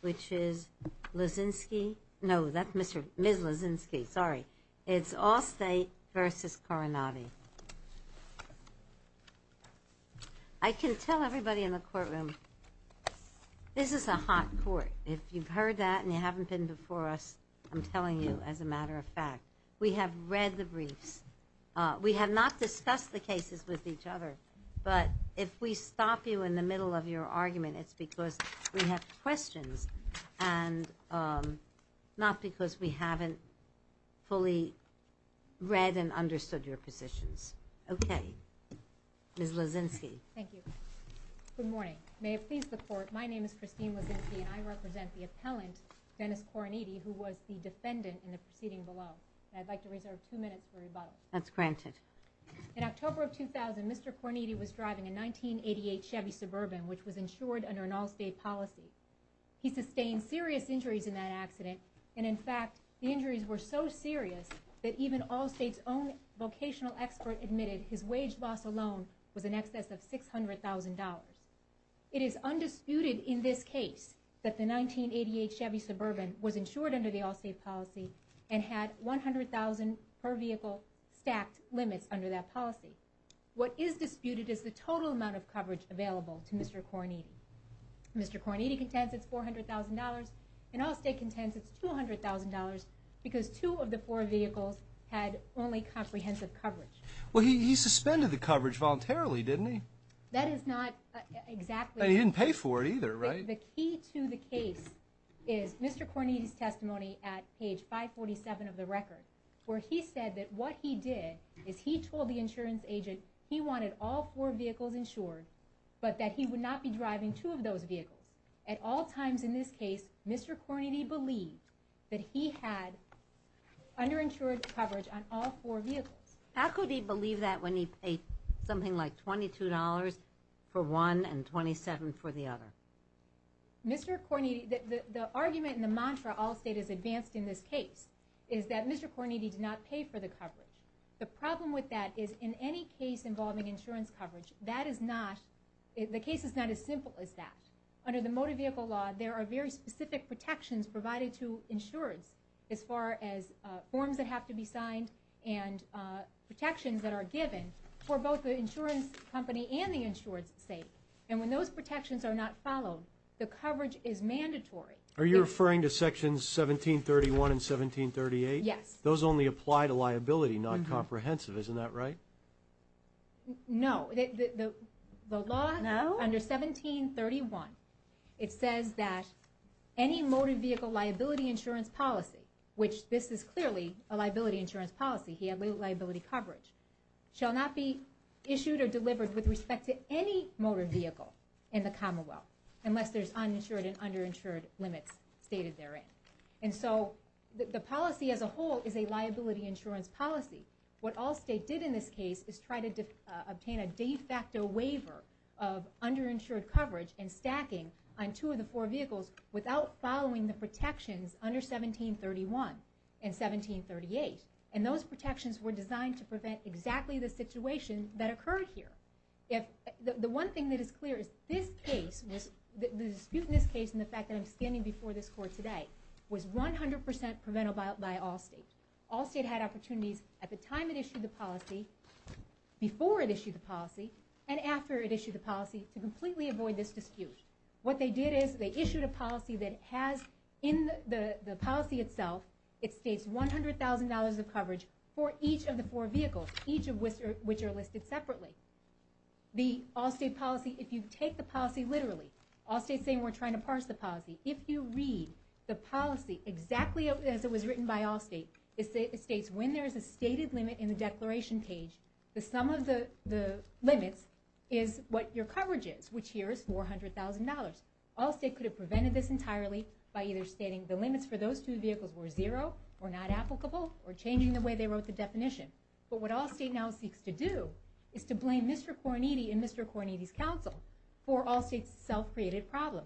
which is Luzinski, no that's Ms. Luzinski, sorry, it's Allstate v. Coroniti. I can tell everybody in the courtroom this is a hot court. If you've heard that and you haven't been before us, I'm telling you as a matter of fact. We have read the briefs. We have not discussed the cases with each other. But if we stop you in the middle of your argument, it's because we have questions and not because we haven't fully read and understood your positions. Okay, Ms. Luzinski. Thank you. Good morning. May it please the court, my name is Christine Luzinski and I represent the appellant, Dennis Coroniti, who was the defendant in the proceeding below. I'd like to reserve two minutes for rebuttal. That's granted. In October of 2000, Mr. Coroniti was driving a 1988 Chevy Suburban which was insured under an Allstate policy. He sustained serious injuries in that accident and in fact the injuries were so serious that even Allstate's own vocational expert admitted his wage loss alone was in excess of $600,000. It is undisputed in this case that the 1988 Chevy Suburban was insured under the Allstate policy and had $100,000 per vehicle stacked limits under that policy. What is disputed is the total amount of coverage available to Mr. Coroniti. Mr. Coroniti contends it's $400,000 and Allstate contends it's $200,000 because two of the four vehicles had only comprehensive coverage. Well, he suspended the coverage voluntarily, didn't he? That is not exactly... But he didn't pay for it either, right? The key to the case is Mr. Coroniti's testimony at page 547 of the record where he said that what he did is he told the insurance agent he wanted all four vehicles insured but that he would not be driving two of those vehicles. At all times in this case, Mr. Coroniti believed that he had underinsured coverage on all four vehicles. How could he believe that when he paid something like $22 for one and $27 for the other? Mr. Coroniti... the argument and the mantra Allstate has advanced in this case is that Mr. Coroniti did not pay for the coverage. The problem with that is in any case involving insurance coverage, that is not... the case is not as simple as that. Under the motor vehicle law, there are very specific protections provided to insurers as far as forms that have to be signed and protections that are given for both the insurance company and the insured state. And when those protections are not followed, the coverage is mandatory. Are you referring to sections 1731 and 1738? Yes. Those only apply to liability, not comprehensive. Isn't that right? No. The law under 1731, it says that any motor vehicle liability insurance policy, which this is clearly a liability insurance policy, liability coverage, shall not be issued or delivered with respect to any motor vehicle in the Commonwealth unless there's uninsured and underinsured limits stated therein. And so the policy as a whole is a liability insurance policy. What Allstate did in this case is try to obtain a de facto waiver of underinsured coverage and stacking on two of the four vehicles without following the protections under 1731 and 1738. And those protections were designed to prevent exactly the situation that occurred here. If... the one thing that is clear is this case was... the dispute in this case and the fact that I'm standing before this court today was 100% preventable by Allstate. Allstate had opportunities at the time it issued the policy, before it issued the policy, and after it issued the policy to completely avoid this dispute. What they did is they issued a policy that has in the policy itself, it states $100,000 of coverage for each of the four vehicles, each of which are listed separately. The Allstate policy, if you take the policy literally, Allstate's saying we're trying to parse the policy. If you read the policy exactly as it was written by Allstate, it states when there is a stated limit in the declaration page, the sum of the limits is what your coverage is, which here is $400,000. Allstate could have prevented this entirely by either stating the limits for those two vehicles were zero or not applicable or changing the way they wrote the definition. But what Allstate now seeks to do is to blame Mr. Cornidi and Mr. Cornidi's counsel for Allstate's self-created problem.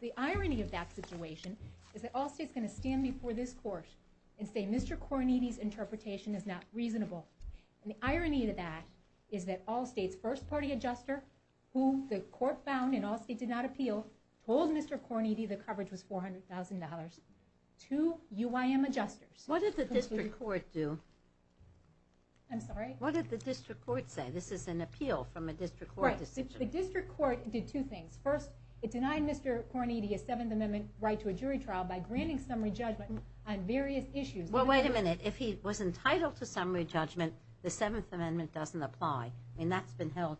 The irony of that situation is that Allstate is going to stand before this court and say Mr. Cornidi's interpretation is not reasonable. The irony of that is that Allstate's first party adjuster, who the court found in Allstate did not appeal, told Mr. Cornidi the coverage was $400,000 to UIM adjusters. What did the district court do? I'm sorry? What did the district court say? This is an appeal from a district court decision. The district court did two things. First, it denied Mr. Cornidi a Seventh Amendment right to a jury trial by granting summary judgment on various issues. Well, wait a minute. If he was entitled to summary judgment, the Seventh Amendment doesn't apply. I mean, that's been held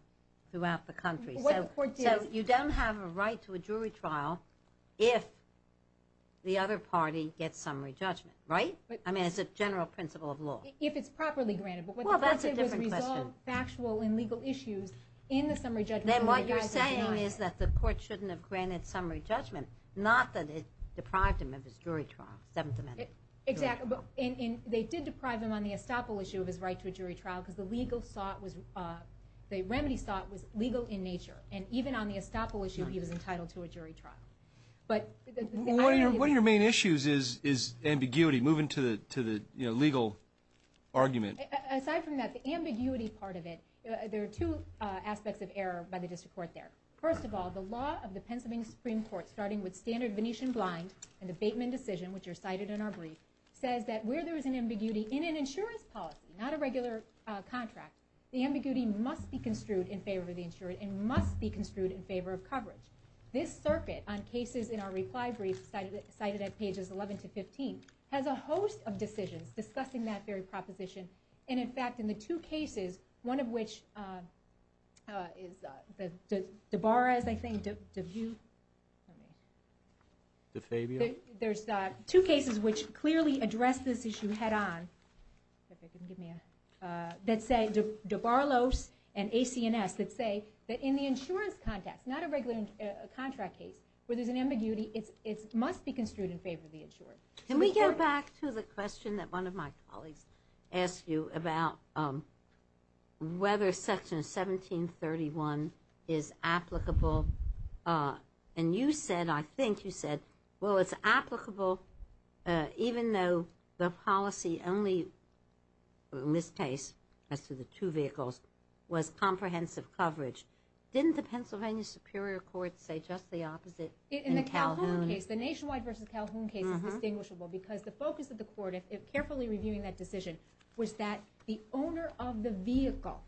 throughout the country. So you don't have a right to a jury trial if the other party gets summary judgment, right? I mean, as a general principle of law. If it's properly granted. Well, that's a different question. But what the court said was resolve factual and legal issues in the summary judgment. Then what you're saying is that the court shouldn't have granted summary judgment, not that it deprived him of his jury trial, Seventh Amendment jury trial. Exactly. And they did deprive him on the estoppel issue of his right to a jury trial because the remedy sought was legal in nature. And even on the estoppel issue, he was entitled to a jury trial. One of your main issues is ambiguity, moving to the legal argument. Aside from that, the ambiguity part of it, there are two aspects of error by the district court there. First of all, the law of the Pennsylvania Supreme Court, starting with standard Venetian blind and the Bateman decision, which are cited in our brief, says that where there is an ambiguity in an insurance policy, not a regular contract, the ambiguity must be construed in favor of the insurer and must be construed in favor of coverage. This circuit on cases in our reply brief, cited at pages 11 to 15, has a host of decisions discussing that very proposition. And, in fact, in the two cases, one of which is Debarra's, I think, DeVue? DeFabio? There's two cases which clearly address this issue head-on that say, DeBarlow's and AC&S, that say that in the insurance context, not a regular contract case, where there's an ambiguity, it must be construed in favor of the insurer. Can we go back to the question that one of my colleagues asked you about whether Section 1731 is applicable? And you said, I think you said, well, it's applicable even though the policy only, in this case, as to the two vehicles, was comprehensive coverage. Didn't the Pennsylvania Superior Court say just the opposite in Calhoun? In the Calhoun case, the Nationwide v. Calhoun case is distinguishable because the focus of the court, if carefully reviewing that decision, was that the owner of the vehicle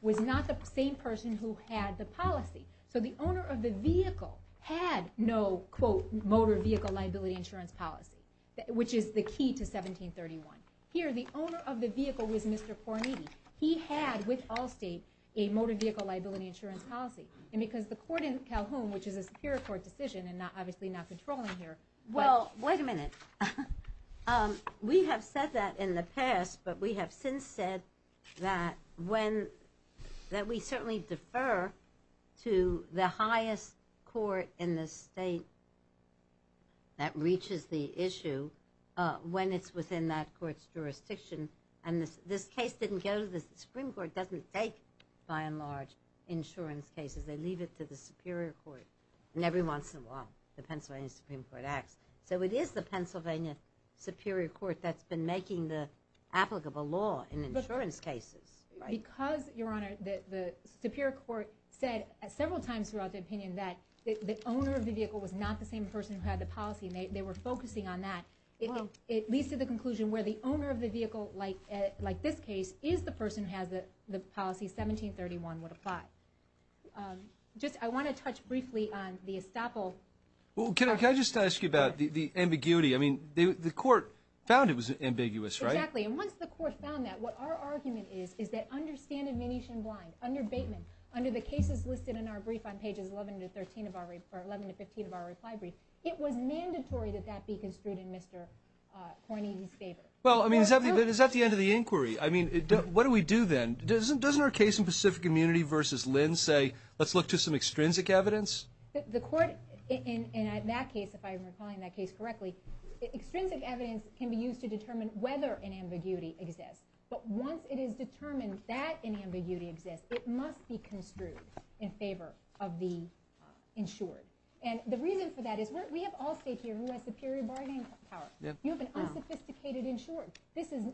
was not the same person who had the policy. So the owner of the vehicle had no, quote, motor vehicle liability insurance policy, which is the key to 1731. Here, the owner of the vehicle was Mr. Poroniti. He had, with Allstate, a motor vehicle liability insurance policy. And because the court in Calhoun, which is a Superior Court decision and obviously not controlling here, but – Yes, but we have since said that when – that we certainly defer to the highest court in the state that reaches the issue when it's within that court's jurisdiction. And this case didn't go to the Supreme Court. It doesn't take, by and large, insurance cases. They leave it to the Superior Court. And every once in a while, the Pennsylvania Supreme Court acts. So it is the Pennsylvania Superior Court that's been making the applicable law in insurance cases. Because, Your Honor, the Superior Court said several times throughout the opinion that the owner of the vehicle was not the same person who had the policy, and they were focusing on that, it leads to the conclusion where the owner of the vehicle, like this case, is the person who has the policy 1731 would apply. Just – I want to touch briefly on the estoppel. Well, can I just ask you about the ambiguity? I mean, the court found it was ambiguous, right? Exactly. And once the court found that, what our argument is, is that under stand-admonition blind, under Bateman, under the cases listed in our brief on pages 11 to 13 of our – or 11 to 15 of our reply brief, it was mandatory that that be construed in Mr. Cornyn's favor. Well, I mean, is that the end of the inquiry? I mean, what do we do then? Doesn't our case in Pacific Community v. Lynn say, let's look to some extrinsic evidence? The court in that case, if I'm recalling that case correctly, extrinsic evidence can be used to determine whether an ambiguity exists. But once it is determined that an ambiguity exists, it must be construed in favor of the insured. And the reason for that is we have all state here who has superior bargaining power. You have an unsophisticated insured. This is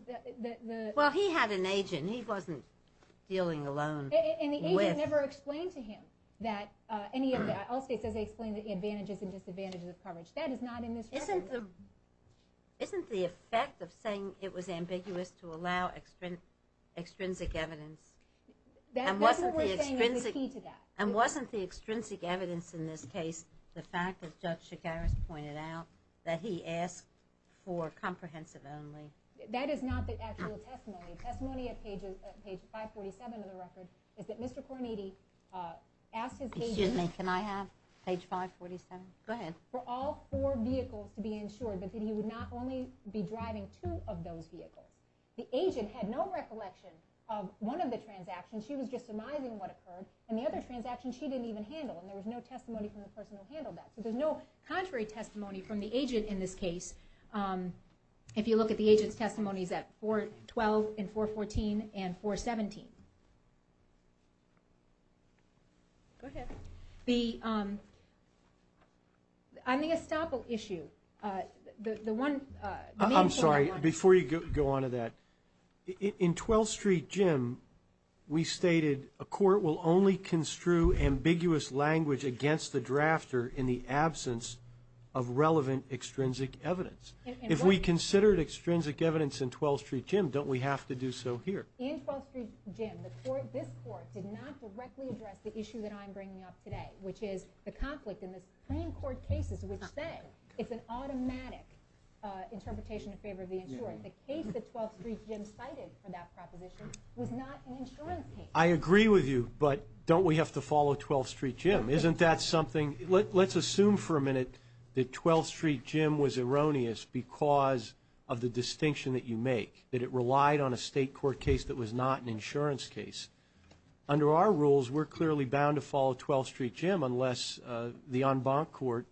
the – Well, he had an agent. He wasn't dealing alone with – And the agent never explained to him that any of the – all state says they explain the advantages and disadvantages of coverage. That is not in this record. Isn't the effect of saying it was ambiguous to allow extrinsic evidence – That's what we're saying is the key to that. And wasn't the extrinsic evidence in this case the fact that Judge Chigaris pointed out that he asked for comprehensive only? That is not the actual testimony. The testimony at page 547 of the record is that Mr. Cornetti asked his agent – Excuse me. Can I have page 547? Go ahead. For all four vehicles to be insured, but that he would not only be driving two of those vehicles. The agent had no recollection of one of the transactions. She was just surmising what occurred. And the other transaction she didn't even handle, and there was no testimony from the person who handled that. So there's no contrary testimony from the agent in this case. If you look at the agent's testimonies at 412 and 414 and 417. Go ahead. The – on the estoppel issue, the one – I'm sorry. Before you go on to that, in 12th Street Gym, we stated a court will only construe ambiguous language against the drafter in the absence of relevant extrinsic evidence. If we considered extrinsic evidence in 12th Street Gym, don't we have to do so here? In 12th Street Gym, this court did not directly address the issue that I'm bringing up today, which is the conflict in the Supreme Court cases, which say it's an automatic interpretation in favor of the insurer. The case that 12th Street Gym cited for that proposition was not an insurance case. I agree with you, but don't we have to follow 12th Street Gym? Isn't that something – let's assume for a minute that 12th Street Gym was erroneous because of the distinction that you make, that it relied on a state court case that was not an insurance case. Under our rules, we're clearly bound to follow 12th Street Gym unless the en banc court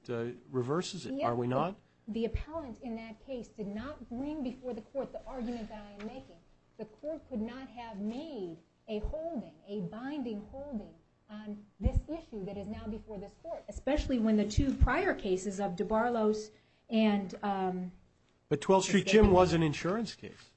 reverses it, are we not? The appellant in that case did not bring before the court the argument that I am making. The court could not have made a holding, a binding holding, on this issue that is now before this court, especially when the two prior cases of de Barlos and – But 12th Street Gym was an insurance case.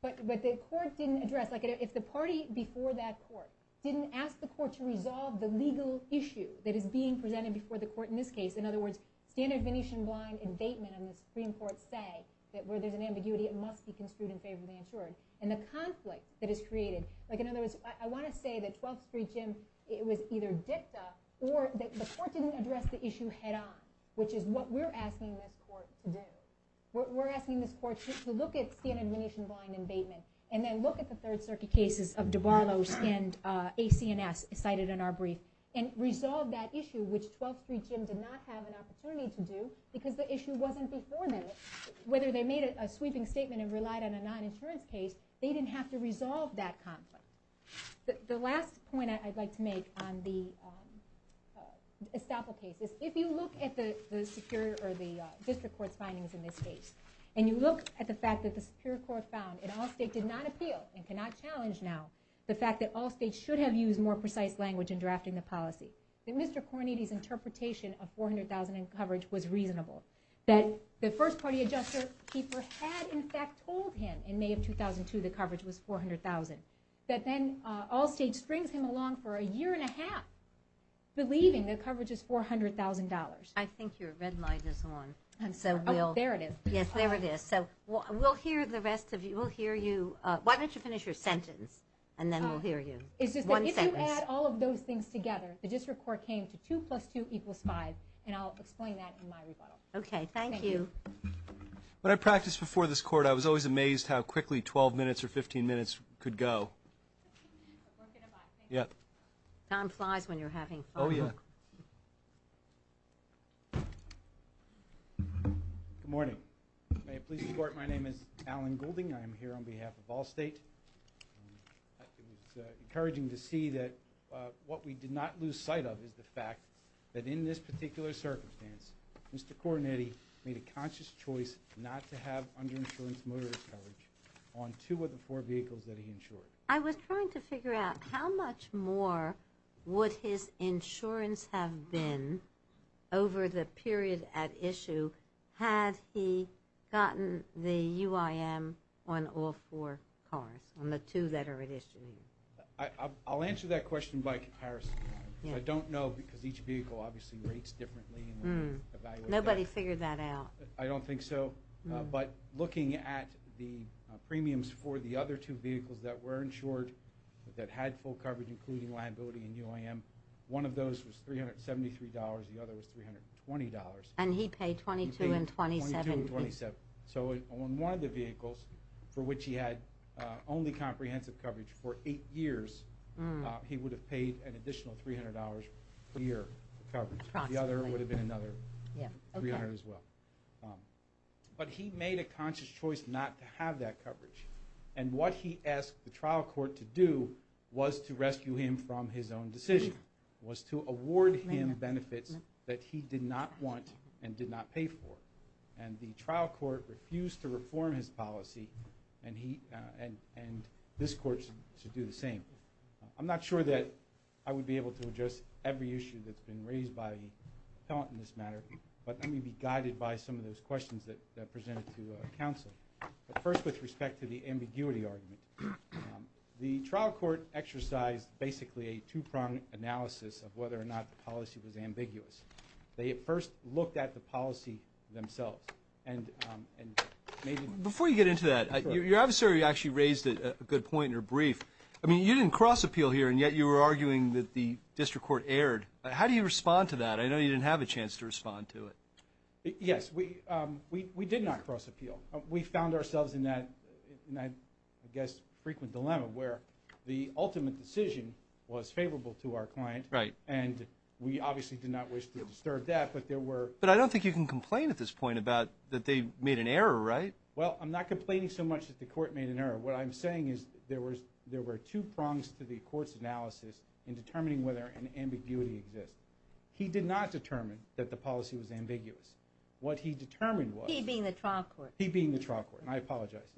But the court didn't address – if the party before that court didn't ask the court to resolve the legal issue that is being presented before the court in this case, in other words, standard Venetian blind indictment and the Supreme Court say that where there's an ambiguity, it must be construed in favor of the insured. And the conflict that is created – like in other words, I want to say that 12th Street Gym was either dipped up or the court didn't address the issue head on, which is what we're asking this court to do. We're asking this court to look at standard Venetian blind indictment and then look at the Third Circuit cases of de Barlos and AC&S cited in our brief and resolve that issue, which 12th Street Gym did not have an opportunity to do because the issue wasn't before them. Whether they made a sweeping statement and relied on a non-insurance case, they didn't have to resolve that conflict. The last point I'd like to make on the Estoppel case is if you look at the district court's findings in this case and you look at the fact that the Superior Court found that Allstate did not appeal and cannot challenge now the fact that Allstate should have used more precise language in drafting the policy, that Mr. Cornetti's interpretation of $400,000 in coverage was reasonable, that the First Party Adjuster-Keeper had in fact told him in May of 2002 that coverage was $400,000, that then Allstate strings him along for a year and a half believing that coverage is $400,000. I think your red light is on. Oh, there it is. Yes, there it is. So we'll hear the rest of you. Why don't you finish your sentence and then we'll hear you. One sentence. It's just that if you add all of those things together, the district court came to 2 plus 2 equals 5, and I'll explain that in my rebuttal. Okay. Thank you. Thank you. When I practiced before this court, I was always amazed how quickly 12 minutes or 15 minutes could go. Time flies when you're having fun. Oh, yeah. Good morning. May it please the Court, my name is Alan Goulding. I am here on behalf of Allstate. It's encouraging to see that what we did not lose sight of is the fact that in this particular circumstance, Mr. Coronetti made a conscious choice not to have underinsurance motorist coverage on two of the four vehicles that he insured. I was trying to figure out how much more would his insurance have been over the period at issue had he gotten the UIM on all four cars, on the two that are at issue. I'll answer that question by comparison. I don't know because each vehicle obviously rates differently. Nobody figured that out. I don't think so. But looking at the premiums for the other two vehicles that were insured that had full coverage including liability and UIM, one of those was $373, the other was $320. And he paid $22 and $27. He paid $22 and $27. So on one of the vehicles for which he had only comprehensive coverage for eight years, he would have paid an additional $300 per year of coverage. The other would have been another $300 as well. But he made a conscious choice not to have that coverage. And what he asked the trial court to do was to rescue him from his own decision, was to award him benefits that he did not want and did not pay for. And the trial court refused to reform his policy, and this court should do the same. I'm not sure that I would be able to address every issue that's been raised by the appellant in this matter, but let me be guided by some of those questions that I presented to counsel. But first with respect to the ambiguity argument, the trial court exercised basically a two-pronged analysis of whether or not the policy was ambiguous. They at first looked at the policy themselves. Before you get into that, your adversary actually raised a good point in her brief. I mean, you didn't cross-appeal here, and yet you were arguing that the district court erred. How do you respond to that? I know you didn't have a chance to respond to it. Yes, we did not cross-appeal. We found ourselves in that, I guess, frequent dilemma where the ultimate decision was favorable to our client, and we obviously did not wish to disturb that. But I don't think you can complain at this point that they made an error, right? Well, I'm not complaining so much that the court made an error. What I'm saying is there were two prongs to the court's analysis in determining whether an ambiguity exists. He did not determine that the policy was ambiguous. What he determined was... He being the trial court. He being the trial court, and I apologize.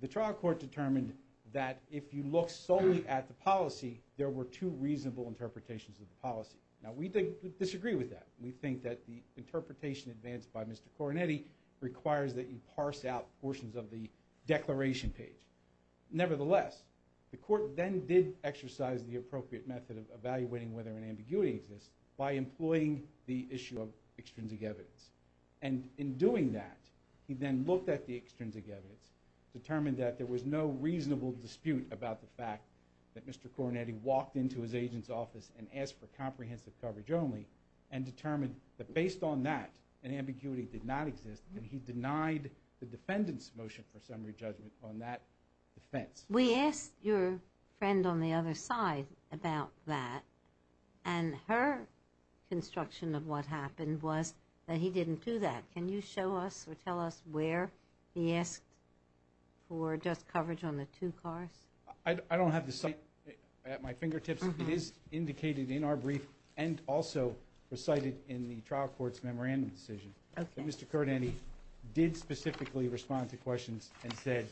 The trial court determined that if you look solely at the policy, there were two reasonable interpretations of the policy. Now, we disagree with that. We think that the interpretation advanced by Mr. Coronetti requires that you parse out portions of the declaration page. Nevertheless, the court then did exercise the appropriate method of evaluating whether an ambiguity exists by employing the issue of extrinsic evidence. And in doing that, he then looked at the extrinsic evidence, determined that there was no reasonable dispute about the fact that Mr. Coronetti walked into his agent's office and asked for comprehensive coverage only, and determined that based on that, an ambiguity did not exist, and he denied the defendant's motion for summary judgment on that defense. We asked your friend on the other side about that, and her construction of what happened was that he didn't do that. Can you show us or tell us where he asked for just coverage on the two cars? I don't have the site at my fingertips. It is indicated in our brief and also recited in the trial court's memorandum decision that Mr. Coronetti did specifically respond to questions and said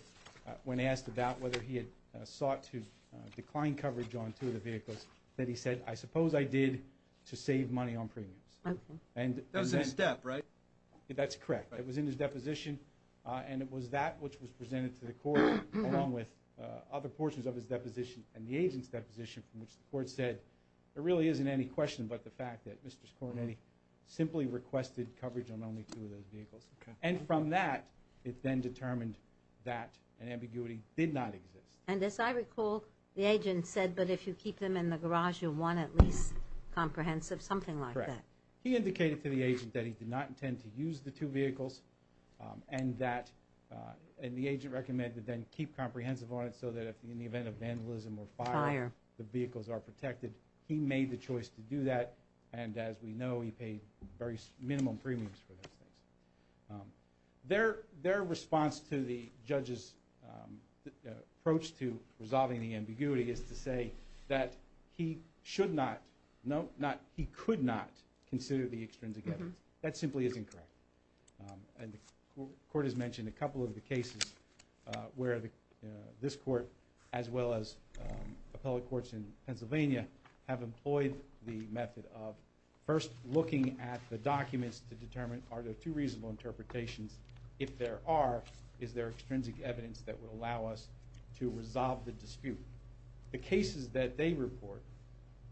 when asked about whether he had sought to decline coverage on two of the vehicles that he said, I suppose I did to save money on premiums. That was in his debt, right? That's correct. It was in his deposition, and it was that which was presented to the court along with other portions of his deposition and the agent's deposition from which the court said there really isn't any question but the fact that Mr. Coronetti simply requested coverage on only two of those vehicles. And from that, it then determined that an ambiguity did not exist. And as I recall, the agent said, but if you keep them in the garage, you'll want at least comprehensive, something like that. Correct. He indicated to the agent that he did not intend to use the two vehicles and the agent recommended then keep comprehensive on it so that in the event of vandalism or fire, the vehicles are protected. He made the choice to do that, and as we know, he paid very minimum premiums for those things. Their response to the judge's approach to resolving the ambiguity is to say that he should not, no, not he could not, consider the extrinsic evidence. That simply is incorrect. And the court has mentioned a couple of the cases where this court as well as appellate courts in Pennsylvania have employed the method of first looking at the documents to determine, are there two reasonable interpretations? If there are, is there extrinsic evidence that would allow us to resolve the dispute? The cases that they report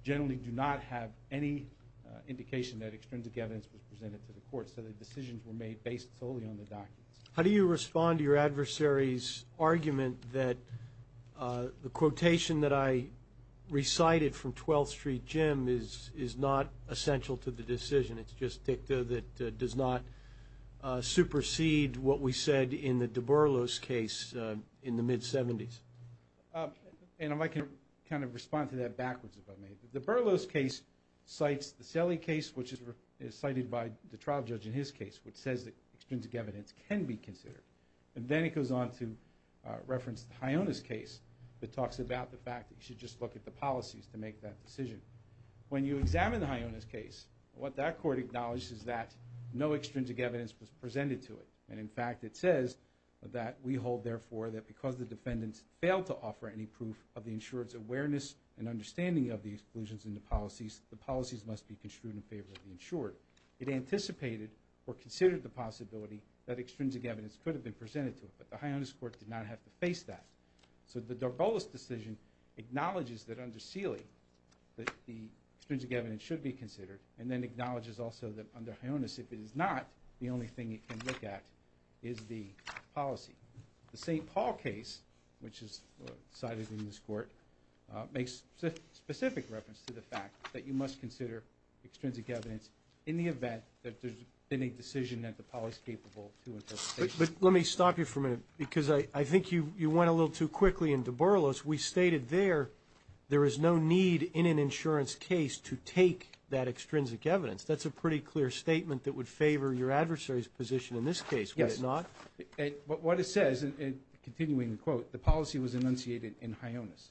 generally do not have any indication that extrinsic evidence was presented to the court, so the decisions were made based solely on the documents. How do you respond to your adversary's argument that the quotation that I recited from 12th Street Gym is not essential to the decision, it's just dicta that does not supersede what we said in the DeBurlos case in the mid-'70s? And I can kind of respond to that backwards if I may. The DeBurlos case cites the Selle case, which is cited by the trial judge in his case, which says that extrinsic evidence can be considered. And then he goes on to reference the Hyonas case that talks about the fact that you should just look at the policies to make that decision. When you examine the Hyonas case, what that court acknowledges is that no extrinsic evidence was presented to it. And, in fact, it says that we hold, therefore, that because the defendants failed to offer any proof of the insurer's awareness and understanding of the exclusions in the policies, the policies must be construed in favor of the insurer. It anticipated or considered the possibility that extrinsic evidence could have been presented to it, but the Hyonas court did not have to face that. So the DeBurlos decision acknowledges that under Selle that the extrinsic evidence should be considered and then acknowledges also that under Hyonas, if it is not, the only thing it can look at is the policy. The St. Paul case, which is cited in this court, makes specific reference to the fact that you must consider extrinsic evidence in the event that there's been a decision that the police capable to intercept. But let me stop you for a minute because I think you went a little too quickly in DeBurlos. We stated there there is no need in an insurance case to take that extrinsic evidence. That's a pretty clear statement that would favor your adversary's position in this case, would it not? What it says, continuing the quote, the policy was enunciated in Hyonas.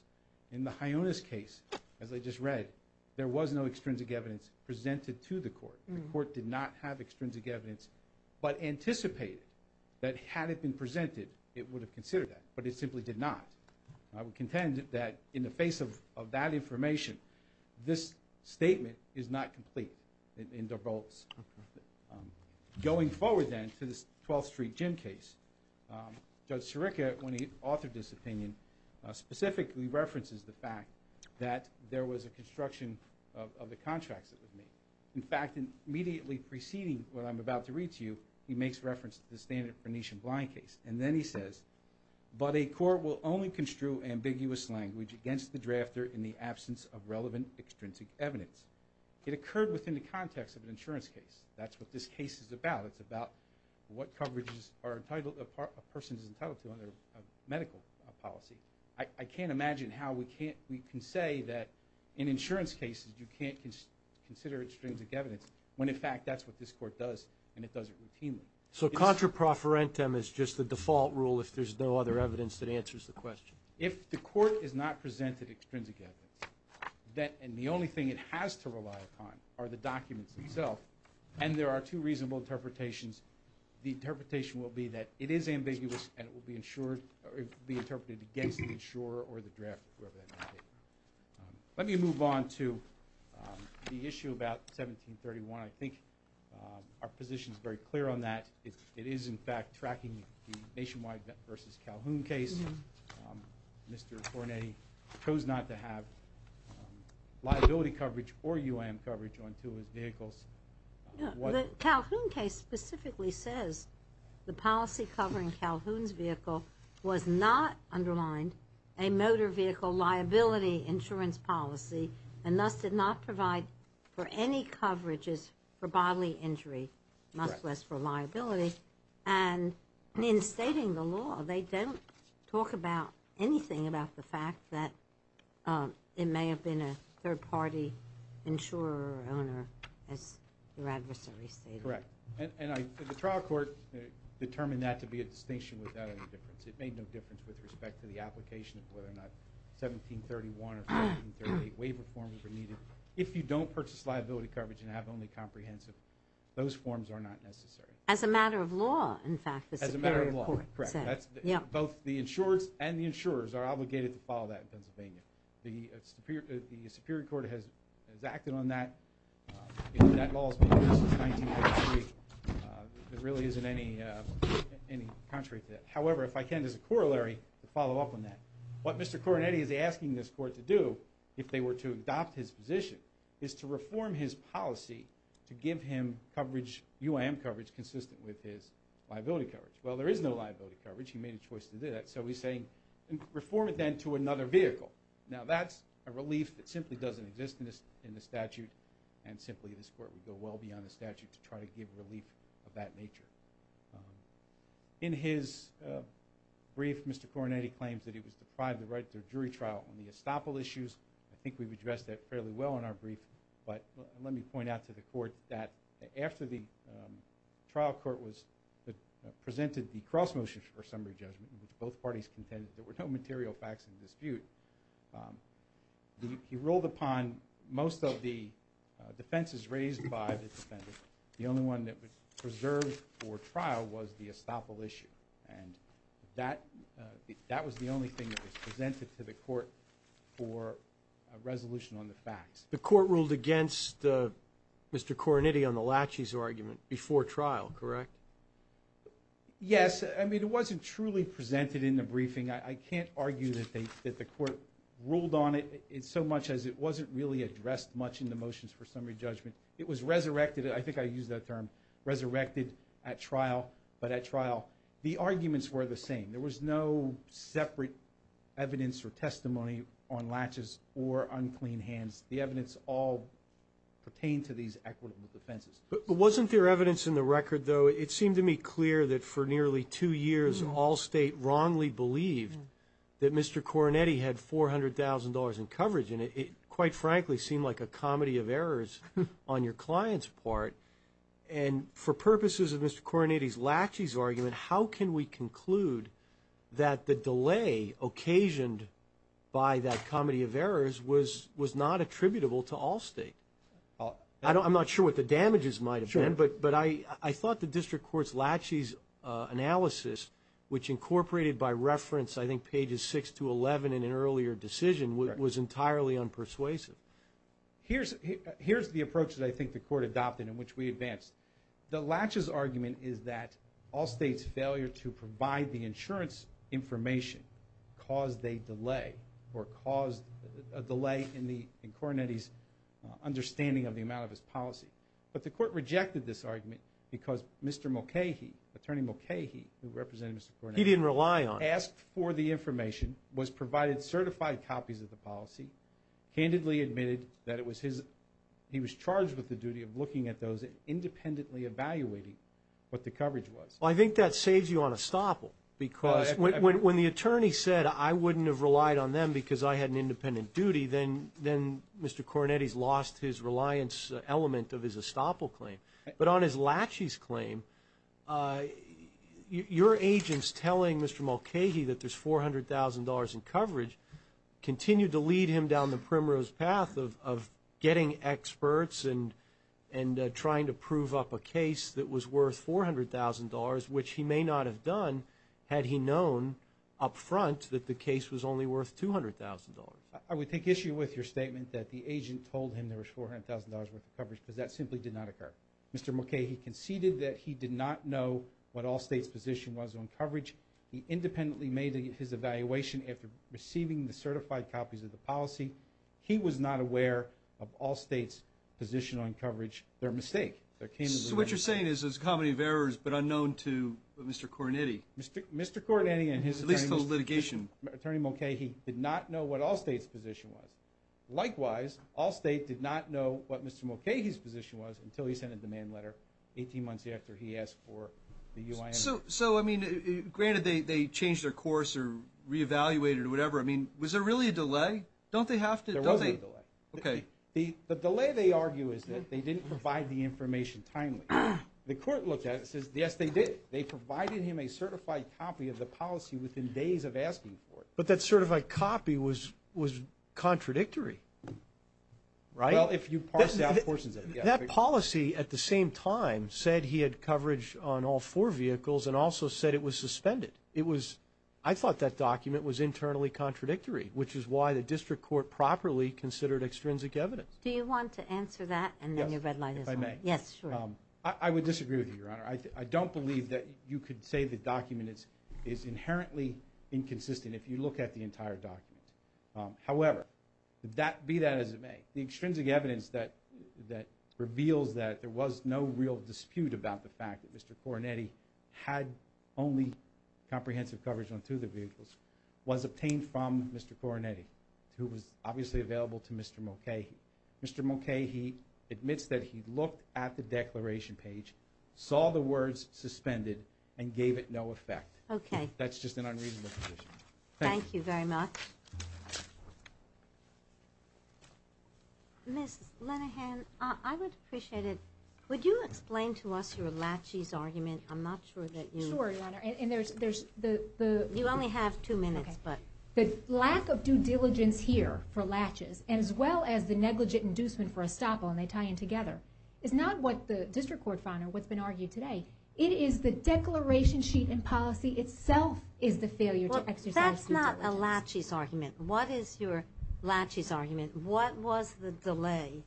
In the Hyonas case, as I just read, there was no extrinsic evidence presented to the court. The court did not have extrinsic evidence but anticipated that had it been presented, it would have considered that, but it simply did not. I would contend that in the face of that information, this statement is not complete in DeBurlos. Going forward then to this 12th Street gym case, Judge Sirica, when he authored this opinion, specifically references the fact that there was a construction of the contracts that were made. In fact, immediately preceding what I'm about to read to you, he makes reference to the standard Pernichian blind case, and then he says, but a court will only construe ambiguous language against the drafter in the absence of relevant extrinsic evidence. It occurred within the context of an insurance case. That's what this case is about. It's about what coverage a person is entitled to under medical policy. I can't imagine how we can say that in insurance cases you can't consider extrinsic evidence when, in fact, that's what this court does, and it does it routinely. So contra profferentum is just the default rule if there's no other evidence that answers the question. If the court has not presented extrinsic evidence, and the only thing it has to rely upon are the documents themselves, and there are two reasonable interpretations, the interpretation will be that it is ambiguous and it will be interpreted against the insurer or the drafter, whoever that may be. Let me move on to the issue about 1731. I think our position is very clear on that. It is, in fact, tracking the Nationwide v. Calhoun case. Mr. Pernich chose not to have liability coverage or UAM coverage on two of his vehicles. The Calhoun case specifically says the policy covering Calhoun's vehicle was not underlined a motor vehicle liability insurance policy and thus did not provide for any coverages for bodily injury, much less for liability. And in stating the law, they don't talk about anything about the fact that it may have been a third-party insurer or owner, as your adversary stated. Correct. And the trial court determined that to be a distinction without any difference. It made no difference with respect to the application of whether or not 1731 or 1738 waiver forms were needed. If you don't purchase liability coverage and have only comprehensive, those forms are not necessary. As a matter of law, in fact, the Superior Court said. As a matter of law, correct. Both the insurers and the insurers are obligated to follow that in Pennsylvania. The Superior Court has acted on that. That law has been in place since 1943. There really isn't any contrary to that. However, if I can, there's a corollary to follow up on that. What Mr. Coronetti is asking this court to do, if they were to adopt his position, is to reform his policy to give him coverage, UAM coverage, consistent with his liability coverage. Well, there is no liability coverage. He made a choice to do that. So he's saying, reform it then to another vehicle. Now, that's a relief that simply doesn't exist in the statute and simply this court would go well beyond the statute to try to give relief of that nature. In his brief, Mr. Coronetti claims that he was deprived the right to a jury trial on the estoppel issues. I think we've addressed that fairly well in our brief, but let me point out to the court that after the trial court presented the cross motion for summary judgment, which both parties contended there were no material facts in dispute, he ruled upon most of the defenses raised by the defendant. The only one that was preserved for trial was the estoppel issue. And that was the only thing that was presented to the court for a resolution on the facts. The court ruled against Mr. Coronetti on the laches argument before trial, correct? Yes, I mean, it wasn't truly presented in the briefing. I can't argue that the court ruled on it so much as it wasn't really addressed much in the motions for summary judgment. It was resurrected, I think I used that term, resurrected at trial, but at trial, the arguments were the same. There was no separate evidence or testimony on laches or unclean hands. The evidence all pertained to these equitable defenses. But wasn't there evidence in the record, though? It seemed to me clear that for nearly two years Allstate wrongly believed that Mr. Coronetti had $400,000 in coverage, and it quite frankly seemed like a comedy of errors on your client's part. And for purposes of Mr. Coronetti's laches argument, how can we conclude that the delay occasioned by that comedy of errors was not attributable to Allstate? I'm not sure what the damages might have been, but I thought the district court's laches analysis, which incorporated by reference I think pages 6 to 11 in an earlier decision, was entirely unpersuasive. Here's the approach that I think the court adopted in which we advanced. The laches argument is that Allstate's failure to provide the insurance information caused a delay in Coronetti's understanding of the amount of his policy. But the court rejected this argument because Mr. Mulcahy, Attorney Mulcahy, who represented Mr. Coronetti... He didn't rely on it. ...asked for the information, was provided certified copies of the policy, candidly admitted that he was charged with the duty of looking at those independently evaluating what the coverage was. Well, I think that saves you on a stopple because when the attorney said I wouldn't have relied on them because I had an independent duty, then Mr. Coronetti's lost his reliance element of his stopple claim. But on his laches claim, your agents telling Mr. Mulcahy that there's $400,000 in coverage continued to lead him down the primrose path of getting experts and trying to prove up a case that was worth $400,000, which he may not have done had he known up front that the case was only worth $200,000. I would take issue with your statement that the agent told him there was $400,000 worth of coverage because that simply did not occur. Mr. Mulcahy conceded that he did not know what Allstate's position was on coverage. He independently made his evaluation after receiving the certified copies of the policy. He was not aware of Allstate's position on coverage. They're a mistake. What you're saying is it's a comedy of errors but unknown to Mr. Coronetti. Mr. Coronetti and his attorney... At least those litigation... Attorney Mulcahy did not know what Allstate's position was. Likewise, Allstate did not know what Mr. Mulcahy's position was until he sent a demand letter 18 months after he asked for the UIN... So, I mean, granted, they changed their course or re-evaluated or whatever. I mean, was there really a delay? Don't they have to... There was a delay. Okay. The delay, they argue, is that they didn't provide the information timely. The court looked at it and says, yes, they did. They provided him a certified copy of the policy within days of asking for it. But that certified copy was contradictory, right? Well, if you parse out portions of it, yeah. That policy, at the same time, said he had coverage on all four vehicles and also said it was suspended. It was... I thought that document was internally contradictory, which is why the district court properly considered extrinsic evidence. Do you want to answer that and then your red light is on? Yes, if I may. Yes, sure. I would disagree with you, Your Honor. I don't believe that you could say the document is inherently inconsistent if you look at the entire document. However, be that as it may, the extrinsic evidence that reveals that there was no real dispute about the fact that Mr. Coronetti had only comprehensive coverage on two of the vehicles was obtained from Mr. Coronetti, who was obviously available to Mr. Mulcahy. Mr. Mulcahy admits that he looked at the declaration page, saw the words suspended, and gave it no effect. Okay. That's just an unreasonable position. Thank you. Thank you very much. Ms. Linehan, I would appreciate it. Would you explain to us your laches argument? I'm not sure that you... Sure, Your Honor, and there's the... You only have two minutes, but... The lack of due diligence here for laches as well as the negligent inducement for estoppel, and they tie in together, is not what the district court found or what's been argued today. It is the declaration sheet and policy itself is the failure to exercise due diligence. Well, that's not a laches argument. What is your laches argument? What was the delay?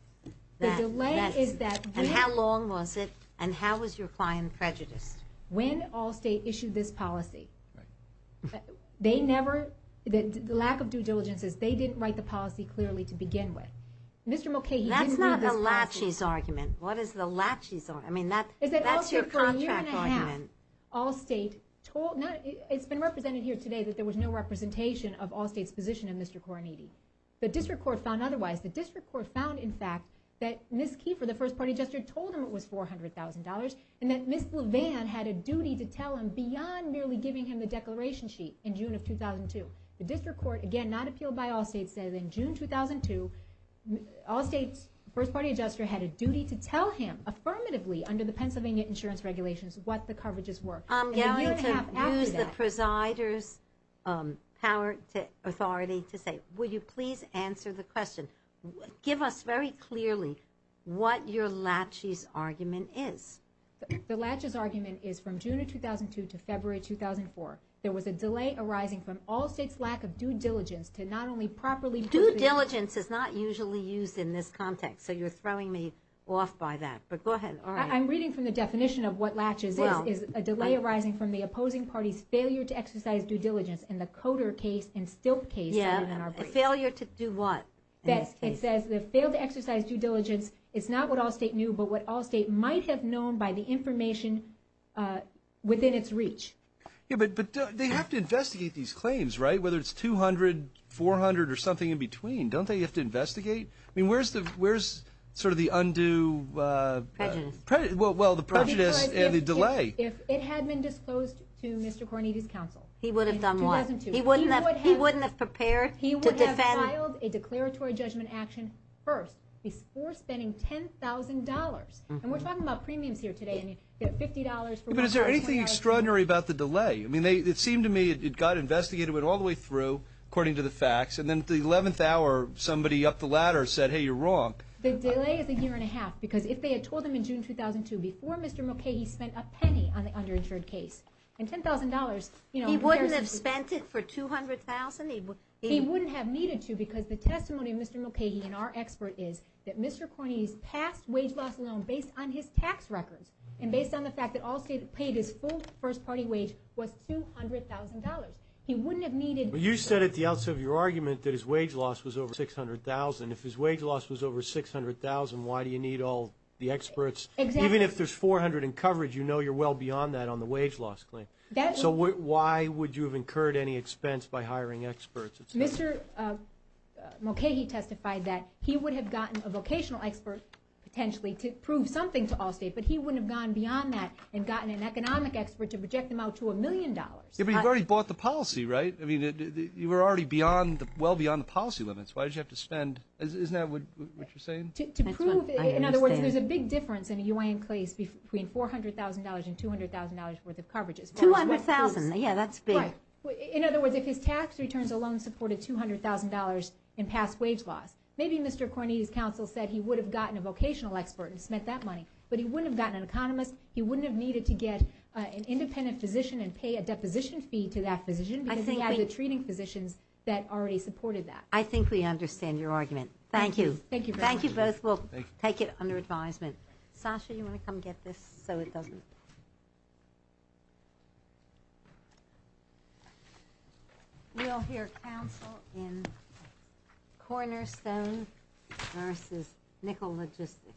The delay is that... And how long was it? And how was your client prejudiced? When Allstate issued this policy, they never... The lack of due diligence is they didn't write the policy clearly to begin with. Mr. Mulcahy didn't read this policy. That's not a laches argument. What is the laches argument? I mean, that's your contract argument. Allstate told... It's been represented here today that there was no representation of Allstate's position in Mr. Coronetti. The district court found otherwise. The district court found, in fact, that Ms. Kiefer, the first-party adjuster, told him it was $400,000 and that Ms. Levan had a duty to tell him beyond merely giving him the declaration sheet in June of 2002. The district court, again, not appealed by Allstate, said in June 2002, Allstate's first-party adjuster had a duty under the Pennsylvania insurance regulations what the coverages were. And a year and a half after that... I'm going to use the presider's authority to say, will you please answer the question? Give us very clearly what your laches argument is. The laches argument is from June of 2002 to February 2004, there was a delay arising from Allstate's lack of due diligence to not only properly... Due diligence is not usually used in this context, so you're throwing me off by that. But go ahead. I'm reading from the definition of what laches is. It's a delay arising from the opposing party's failure to exercise due diligence in the Coder case and Stilt case. Yeah, a failure to do what? It says they failed to exercise due diligence. It's not what Allstate knew, but what Allstate might have known by the information within its reach. Yeah, but they have to investigate these claims, right? Whether it's 200, 400, or something in between. Don't they have to investigate? I mean, where's sort of the undue... Prejudice. Well, the prejudice and the delay. If it had been disclosed to Mr. Cornete's counsel... He would have done what? He wouldn't have prepared to defend... He would have filed a declaratory judgment action first before spending $10,000. And we're talking about premiums here today. You get $50 for... But is there anything extraordinary about the delay? I mean, it seemed to me it got investigated all the way through, according to the facts, and then at the 11th hour, somebody up the ladder said, hey, you're wrong. The delay is a year and a half, because if they had told him in June 2002, before Mr. Mulcahy spent a penny on the underinsured case, and $10,000, you know... He wouldn't have spent it for $200,000? He wouldn't have needed to, because the testimony of Mr. Mulcahy, and our expert, is that Mr. Cornete's past wage loss loan, based on his tax records, and based on the fact that Allstate paid his full first-party wage, was $200,000. He wouldn't have needed... But you said at the outset of your argument that his wage loss was over $600,000. If his wage loss was over $600,000, why do you need all the experts? Even if there's $400,000 in coverage, you know you're well beyond that on the wage loss claim. So why would you have incurred any expense by hiring experts? Mr. Mulcahy testified that he would have gotten a vocational expert, potentially, to prove something to Allstate, but he wouldn't have gone beyond that and gotten an economic expert to project them out to a million dollars. Yeah, but you've already bought the policy, right? I mean, you were already well beyond the policy limits. Why did you have to spend... Isn't that what you're saying? To prove... In other words, there's a big difference in a U.N. case between $400,000 and $200,000 worth of coverages. $200,000, yeah, that's big. In other words, if his tax returns alone supported $200,000 in past wage loss, maybe Mr. Cornyn's counsel said he would have gotten a vocational expert and spent that money, but he wouldn't have gotten an economist, he wouldn't have needed to get an independent physician and pay a deposition fee to that physician because he had the treating physicians that already supported that. I think we understand your argument. Thank you. Thank you very much. Thank you both. We'll take it under advisement. Sasha, you want to come get this so it doesn't... We'll hear counsel in Cornerstone versus Nickel Logistics.